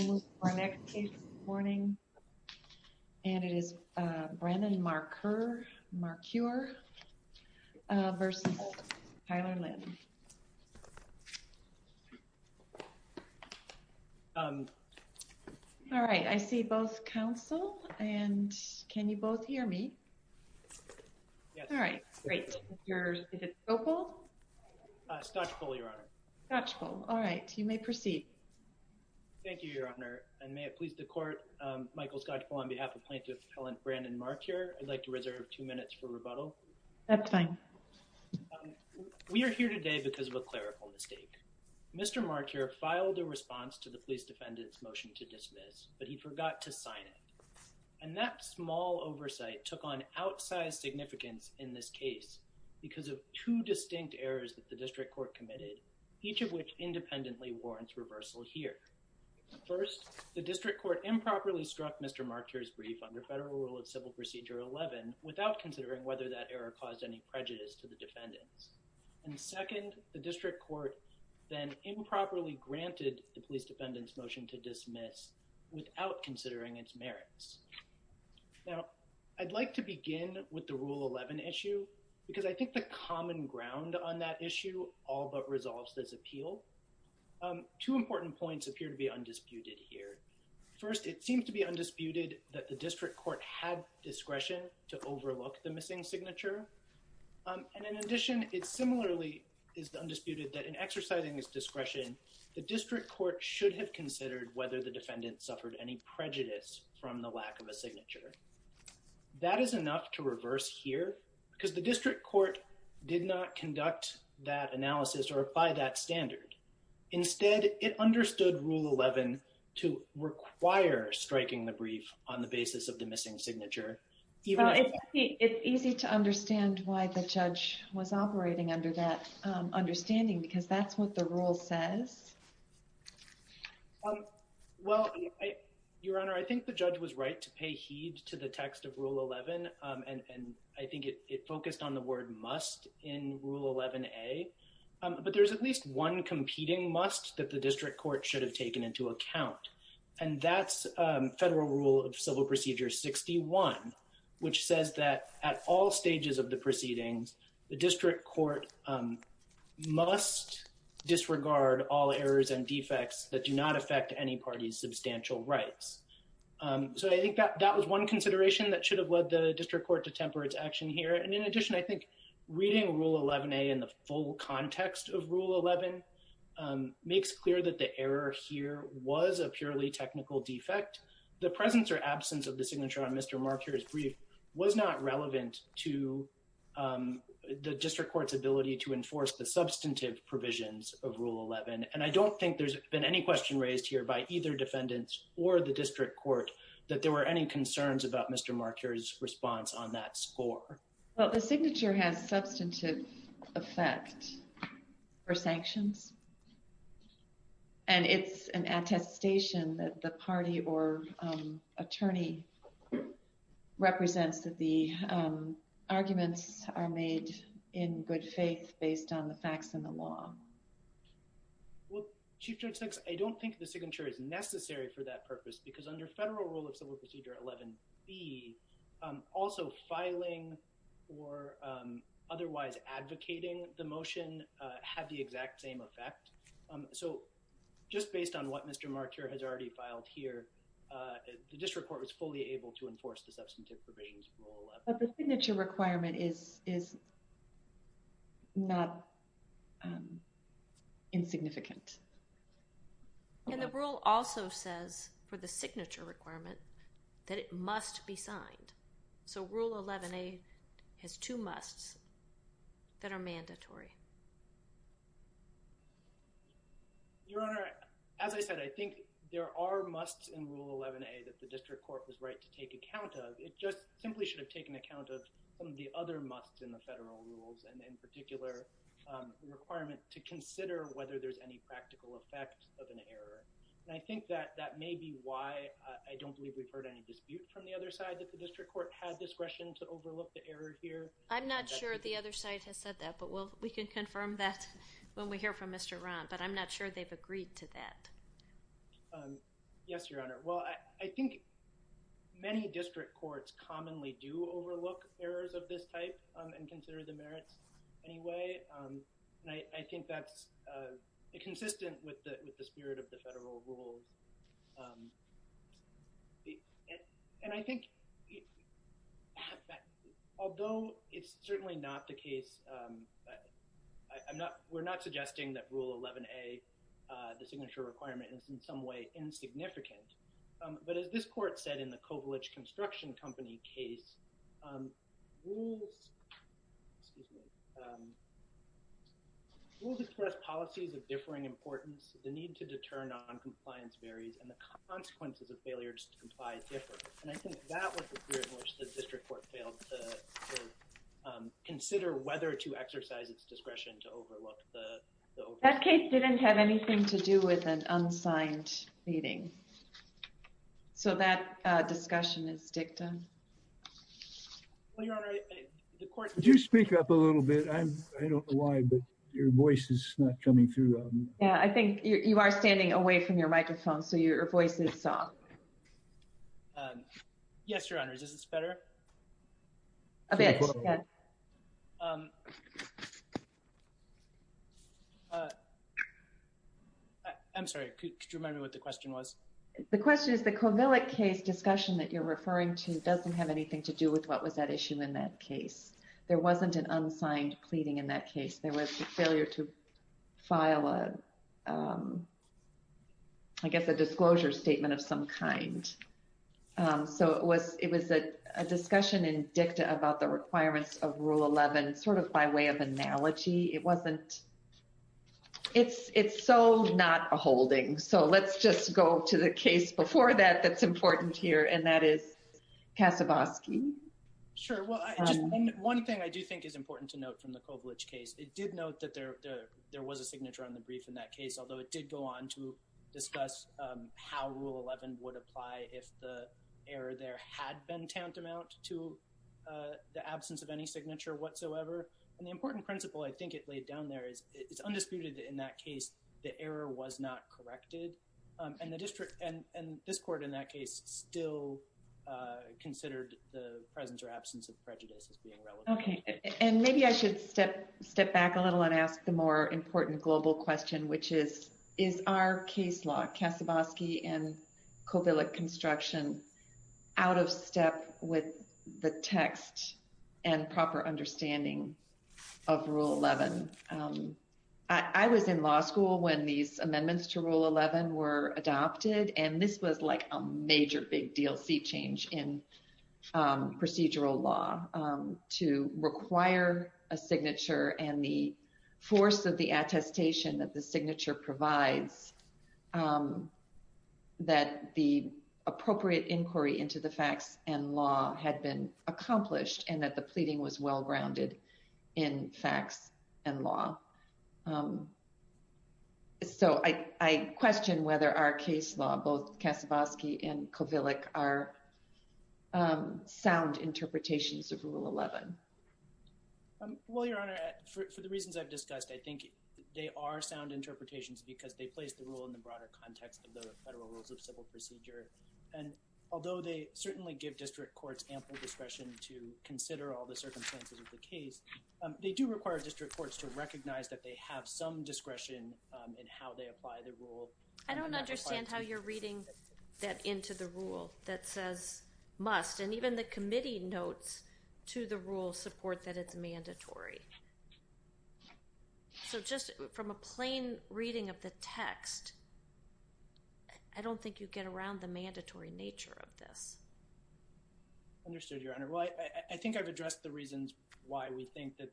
all right I see both counsel and can you both hear me all right all right you may proceed thank you your honor and may it please the court Michael Scott on behalf of plaintiff Helen Brandon Marcure I'd like to reserve two minutes for rebuttal that's fine we are here today because of a clerical mistake mr. Marcure filed a response to the police defendant's motion to dismiss but he forgot to sign it and that small oversight took on outsized significance in this case because of two distinct errors that the district court committed each of which independently warrants reversal here first the district court improperly struck mr. Marcure's brief under federal rule of civil procedure 11 without considering whether that error caused any prejudice to the defendants and second the district court then improperly granted the police defendant's motion to dismiss without considering its merits now I'd like to begin with the rule 11 issue because I think the common ground on that issue all but resolves this appeal two important points appear to be undisputed here first it seems to be undisputed that the district court had discretion to overlook the missing signature and in addition it similarly is the undisputed that in exercising its discretion the district court should have considered whether the defendant suffered any prejudice from the lack of a signature that is enough to reverse here because the district court did not conduct that analysis or apply that standard instead it understood rule 11 to require striking the brief on the basis of the missing signature even if it's easy to understand why the judge was operating under that understanding because that's what the rule says well your honor I think the judge was right to pay heed to the text of rule 11 and I think it focused on the word must in rule 11 a but there's at least one competing must that the district court should have taken into account and that's federal rule of civil procedure 61 which says that at all stages of the proceedings the district court must disregard all errors and defects that do not affect any party's substantial rights so I think that that was one consideration that should have led the district court to temper its action here and in addition I think reading rule 11a in the full context of rule 11 makes clear that the error here was a purely technical defect the presence or absence of the signature on mr. markers brief was not relevant to the district court's ability to enforce the substantive provisions of rule 11 and I don't think there's been any question raised here by either defendants or the district court that there were any concerns about mr. markers response on that score well the signature has substantive effect for sanctions and it's an attestation that the party or attorney represents that the arguments are made in good faith based on the facts in the law well chief judge six I don't think the signature is necessary for that purpose because under federal rule of civil procedure 11b also filing or otherwise advocating the motion have the exact same effect so just based on what mr. marker has already filed here the district court was fully able to enforce the substantive provisions of the signature requirement is is not insignificant and the rule also says for the signature requirement that it must be signed so rule 11a has two musts that are mandatory your honor as I said I think there are musts in rule 11a that the district court was right to take account of it just simply should have taken account of some of the other musts in the federal rules and in particular the requirement to consider whether there's any practical effect of an error and I think that that may be why I don't believe we've heard any dispute from the other side that the district court had discretion to overlook the error here I'm not sure the other side has said that but well we can confirm that when we hear from mr. Ron but I'm not sure they've agreed to that yes your honor well I think many district courts commonly do overlook errors of this type and consider the merits anyway I think that's consistent with the spirit of the federal rules and I think although it's certainly not the case I'm not we're not suggesting that rule 11a the signature requirement is in some way insignificant but as this court said in the Kovalev construction company case we'll discuss policies of differing importance the need to deter non-compliance varies and the consequences of failures to comply differ and I think that was the period in which the district court failed to consider whether to exercise its discretion to overlook the that case didn't have anything to do with an discussion is dictum you speak up a little bit I don't know why but your voice is not coming through yeah I think you are standing away from your microphone so your voice is soft yes your honor this is better I'm sorry could you remember what the question was the question is the question that you're referring to doesn't have anything to do with what was that issue in that case there wasn't an unsigned pleading in that case there was a failure to file a I guess a disclosure statement of some kind so it was it was a discussion in dicta about the requirements of rule 11 sort of by way of analogy it wasn't it's it's so not a holding so let's just go to the here and that is Kassabaski sure well one thing I do think is important to note from the coverage case it did note that there there was a signature on the brief in that case although it did go on to discuss how rule 11 would apply if the error there had been tantamount to the absence of any signature whatsoever and the important principle I think it laid down there is it's undisputed in that case the error was not corrected and the district and and this court in that case still considered the presence or absence of prejudice okay and maybe I should step step back a little and ask the more important global question which is is our case law Kassabaski and Covillick construction out of step with the text and proper understanding of rule 11 I was in law school when these major big deal see change in procedural law to require a signature and the force of the attestation that the signature provides that the appropriate inquiry into the facts and law had been accomplished and that the pleading was well-grounded in facts and law so I question whether our case law both Kassabaski and Covillick are sound interpretations of rule 11 well your honor for the reasons I've discussed I think they are sound interpretations because they place the rule in the broader context of the federal rules of civil procedure and although they certainly give district courts ample discretion to consider all the circumstances of the case they do require district courts to recognize that they have some discretion in how I don't understand how you're reading that into the rule that says must and even the committee notes to the rule support that it's mandatory so just from a plain reading of the text I don't think you get around the mandatory nature of this understood your honor right I think I've addressed the reasons why we think that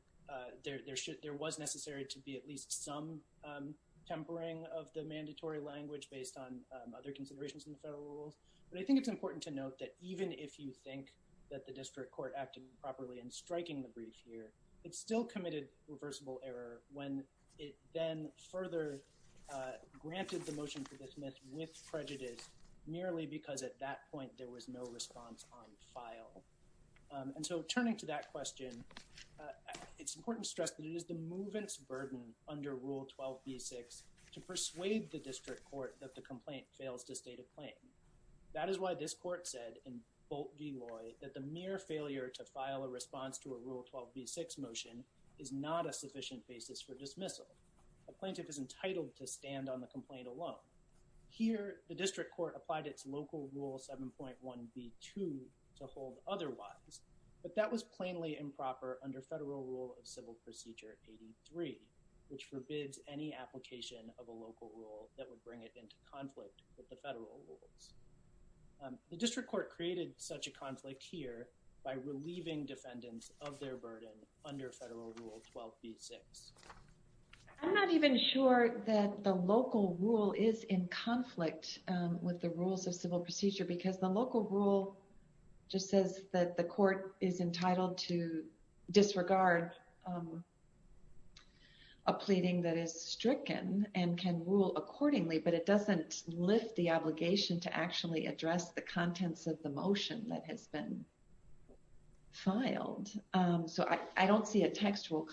there should there was necessary to be at least some tempering of the mandatory language based on other considerations in the federal rules but I think it's important to note that even if you think that the district court acted properly in striking the brief here it still committed reversible error when it then further granted the motion for this myth with prejudice merely because at that point there was no response on file and so turning to that question it's important to stress that it is the the district court that the complaint fails to state a claim that is why this court said in bolt v. Lloyd that the mere failure to file a response to a rule 12 v6 motion is not a sufficient basis for dismissal a plaintiff is entitled to stand on the complaint alone here the district court applied its local rule 7.1 v2 to hold otherwise but that was plainly improper under federal rule of rule that would bring it into conflict with the federal rules the district court created such a conflict here by relieving defendants of their burden under federal rule 12 v6 I'm not even sure that the local rule is in conflict with the rules of civil procedure because the local rule just says that the court is entitled to disregard a pleading that is stricken and can rule accordingly but it doesn't lift the obligation to actually address the contents of the motion that has been filed so I don't see a textual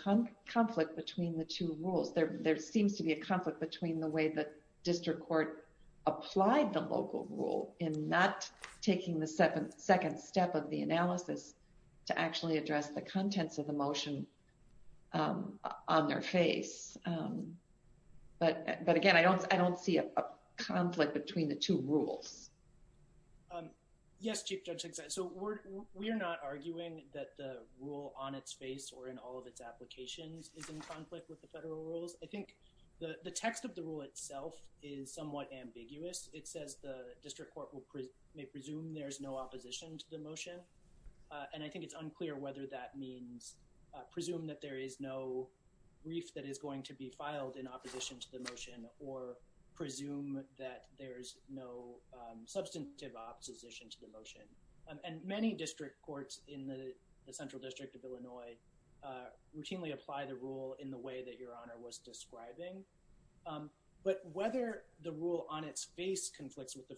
conflict between the two rules there there seems to be a conflict between the way the district court applied the local rule in not taking the second second step of the analysis to actually address the contents of the motion on their face but but again I don't I don't see a conflict between the two rules yes chief judge so we're not arguing that the rule on its face or in all of its applications I think the the text of the rule itself is somewhat ambiguous it seems to me that it's unclear whether that means presumed that there is no brief that is going to be filed in opposition to the motion or presume that there's no substantive opposition to the motion and many district courts in the central district of Illinois routinely apply the rule in the way that your honor was describing but whether the rule on its face conflicts with the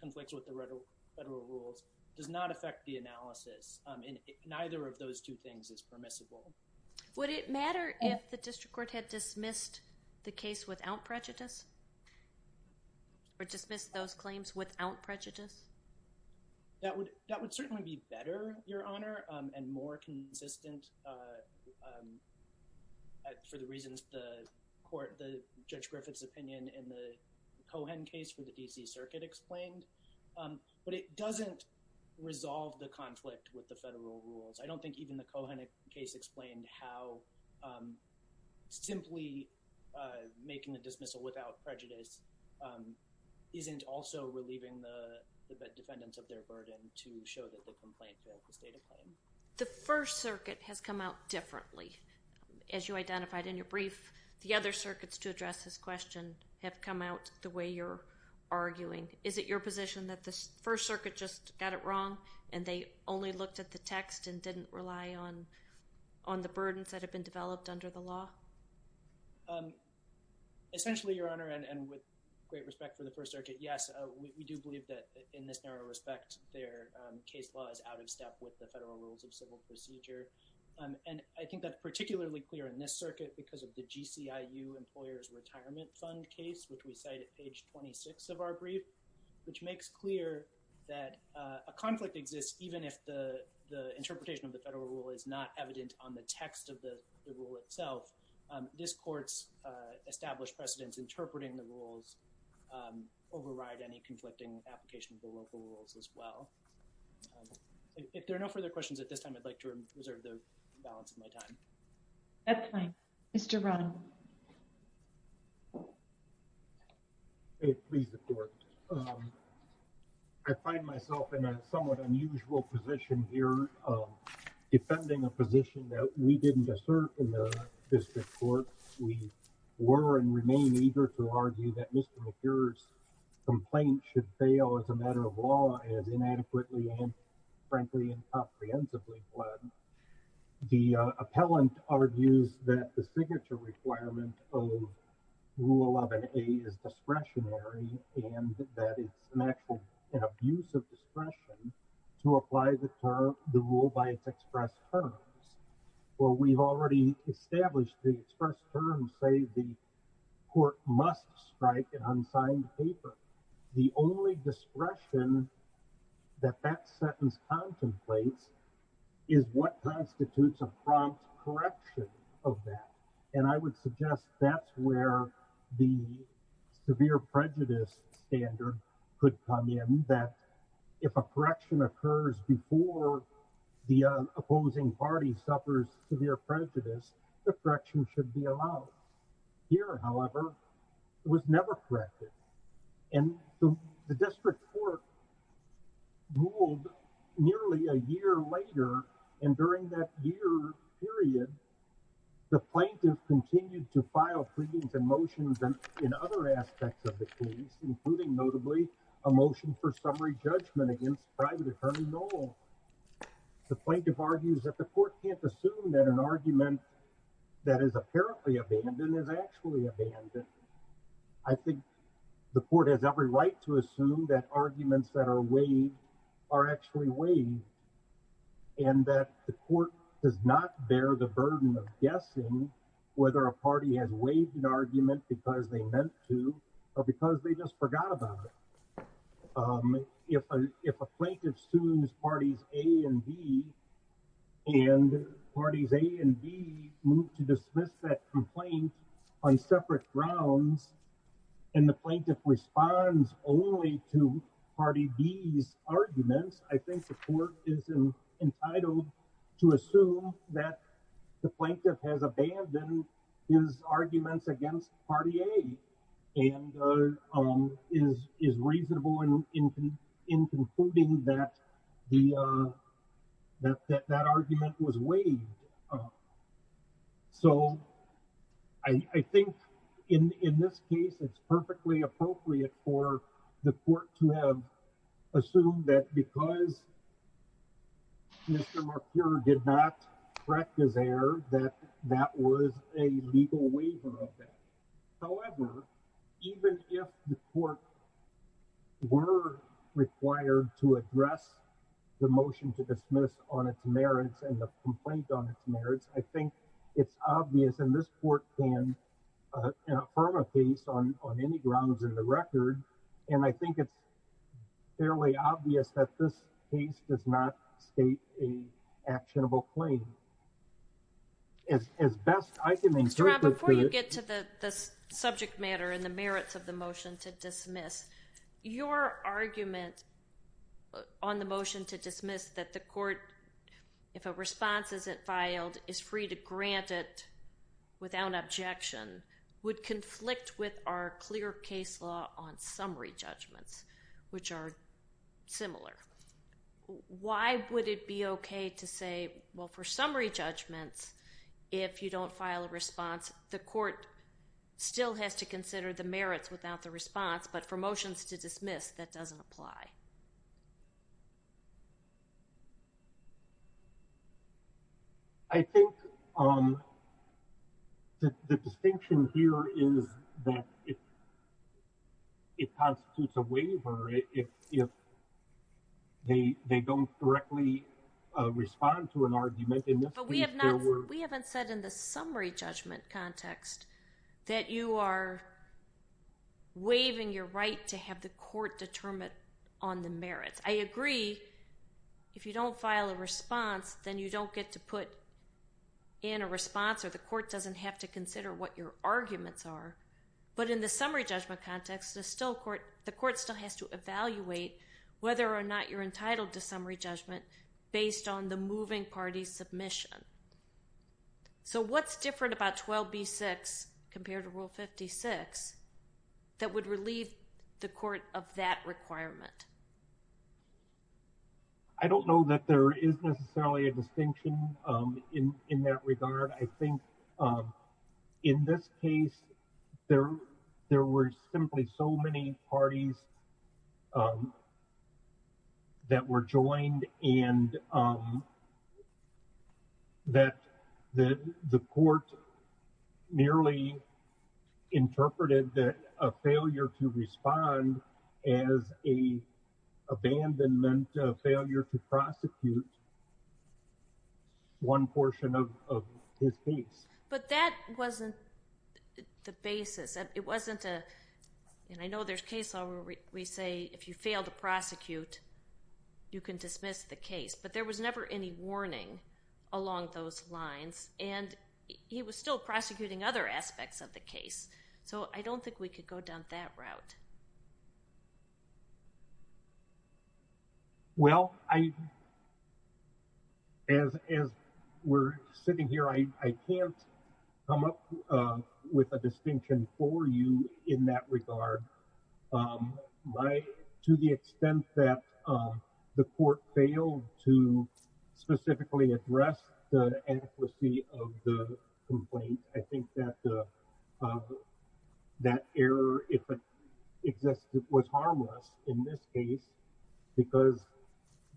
conflicts with the reddle federal rules does not affect the analysis in neither of those two things is permissible would it matter if the district court had dismissed the case without prejudice or dismissed those claims without prejudice that would that would certainly be better your honor and more consistent for the reasons the court the judge Griffith's opinion in the Cohen case for the DC Circuit explained but it doesn't resolve the conflict with the federal rules I don't think even the Cohen case explained how simply making the dismissal without prejudice isn't also relieving the defendants of their the First Circuit has come out differently as you identified in your brief the other circuits to address this question have come out the way you're arguing is it your position that the First Circuit just got it wrong and they only looked at the text and didn't rely on on the burdens that have been developed under the law essentially your honor and with great respect for the First Circuit yes we do believe that in this narrow respect their case law is out of step with the federal rules of civil procedure and I think that's particularly clear in this circuit because of the GCI you employers retirement fund case which we cite at page 26 of our brief which makes clear that a conflict exists even if the the interpretation of the federal rule is not evident on the text of the rule itself this courts established precedents interpreting the rules override any conflicting application of local rules as well if there are no further questions at this time I'd like to reserve the balance of my time that's fine mr. Brown it please the court I find myself in a somewhat unusual position here defending a position that we didn't assert in the district court we were and remain eager to argue that complaint should fail as a matter of law as inadequately and frankly comprehensively blood the appellant argues that the signature requirement of rule 11a is discretionary and that it's an actual abuse of discretion to apply the term the rule by its express terms well we've already established the terms say the court must strike an unsigned paper the only discretion that that sentence contemplates is what constitutes a prompt correction of that and I would suggest that's where the severe prejudice standard could come in that if a correction occurs before the opposing party suffers severe prejudice the correction should be allowed here however it was never corrected and the district court ruled nearly a year later and during that year period the plaintiff continued to file pleadings and motions and in other aspects of the case including notably a motion for summary judgment against private attorney no the plaintiff argues that the court can't assume that an argument that is apparently abandoned is actually abandoned I think the court has every right to assume that arguments that are waived are actually waived and that the court does not bear the burden of guessing whether a party has waived an argument because they meant to or because they just forgot about it if a plaintiff sues parties A and B and parties A and B move to dismiss that complaint on separate grounds and the plaintiff responds only to party B's arguments I think the court is entitled to assume that the plaintiff has that argument was waived so I think in this case it's perfectly appropriate for the court to have assumed that because Mr. Marqueur did not correct his error that that was a legal waiver of that however even if the court were required to address the motion to dismiss on its merits and the complaint on its merits I think it's obvious and this court can affirm a case on any grounds in the record and I think it's fairly obvious that this case does not state a actionable claim as best I can before you get to the subject matter and the on the motion to dismiss that the court if a response isn't filed is free to grant it without objection would conflict with our clear case law on summary judgments which are similar why would it be okay to say well for summary judgments if you don't file a response the court still has to consider the I think on the distinction here is that it constitutes a waiver if they they don't directly respond to an argument in this we haven't said in the summary judgment context that you are waiving your right to have the court determine on the merits I agree if you don't file a response then you don't get to put in a response or the court doesn't have to consider what your arguments are but in the summary judgment context is still court the court still has to evaluate whether or not you're entitled to summary judgment based on the moving party submission so what's different about 12b6 compared to rule 56 that would relieve the court of that requirement I don't know that there is necessarily a distinction in in that regard I think in this case there there were simply so many parties that were joined and that the the court nearly interpreted that a failure to respond as a abandonment of failure to prosecute one portion of his case but that wasn't the basis it wasn't a and I know there's case law where we say if you fail to prosecute you can dismiss the case but there was never any warning along those lines and he was still prosecuting other aspects of the case so I don't think we could go down that route well I as we're sitting here I can't come up with a distinction for you in that regard my to the extent that the court failed to specifically address the adequacy of the complaint I think that that error if it existed was harmless in this case because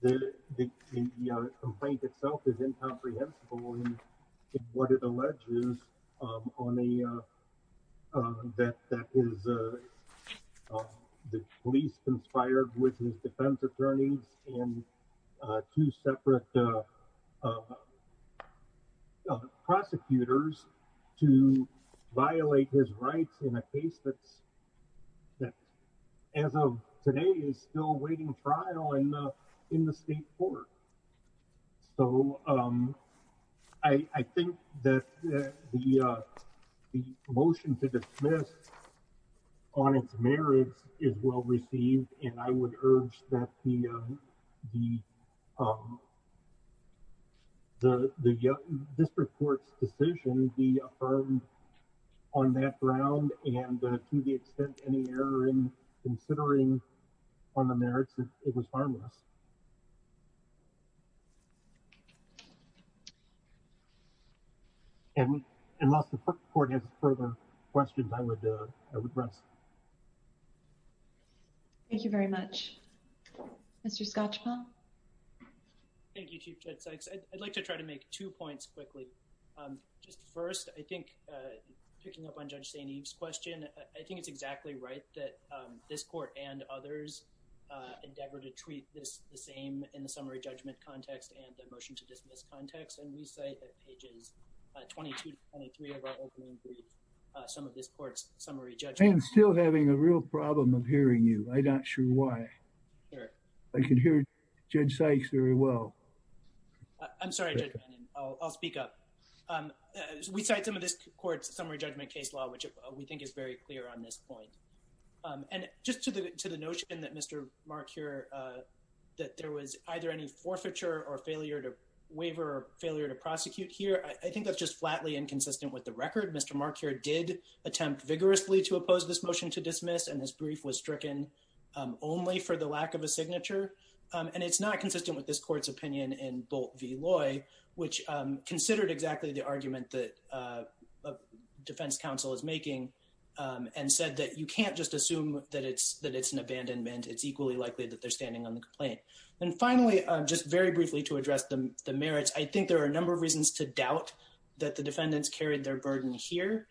the complaint itself is incomprehensible in what it alleges on a that that is the police conspired with his defense attorneys and two separate prosecutors to violate his rights in a case that's that as of today is still waiting trial and in the state court so I think that the the motion to dismiss on its merits is well received and I would urge that the the the this report's decision be affirmed on that ground and to the extent any error in considering on the merits it was harmless and unless the court has further questions I would I would like to try to make two points quickly just first I think picking up on judge St. Eve's question I think it's exactly right that this court and others endeavor to treat this the same in the summary judgment context and the motion to dismiss context and we say that pages 22 23 of our opening brief some of this court's summary judge I'm still having a real problem of hearing you I not sure why I can hear judge Sykes very well I'm sorry I'll speak up we cite some of this court's summary judgment case law which we think is very clear on this point and just to the to the notion that mr. mark here that there was either any forfeiture or failure to waiver or failure to prosecute here I think that's flatly inconsistent with the record mr. mark here did attempt vigorously to oppose this motion to dismiss and this brief was stricken only for the lack of a signature and it's not consistent with this court's opinion in bolt v. Loy which considered exactly the argument that defense counsel is making and said that you can't just assume that it's that it's an abandonment it's equally likely that they're standing on the complaint and finally I'm just very briefly to defendants carried their burden here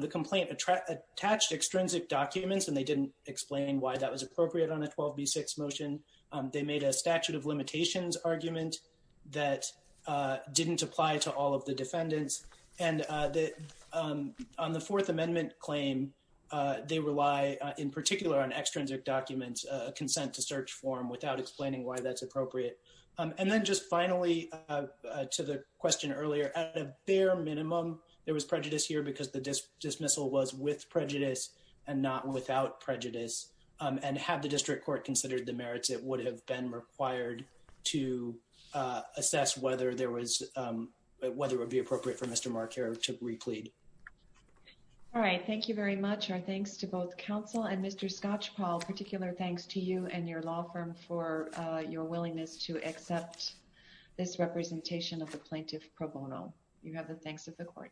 the complaint attract attached extrinsic documents and they didn't explain why that was appropriate on a 12b 6 motion they made a statute of limitations argument that didn't apply to all of the defendants and that on the Fourth Amendment claim they rely in particular on extrinsic documents consent to search form without explaining why that's finally to the question earlier at a bare minimum there was prejudice here because the dismissal was with prejudice and not without prejudice and have the district court considered the merits it would have been required to assess whether there was whether it would be appropriate for mr. mark here to replete all right thank you very much our thanks to both counsel and mr. scotch Paul particular thanks to you and your law firm for your willingness to accept this representation of the plaintiff pro bono you have the thanks of the court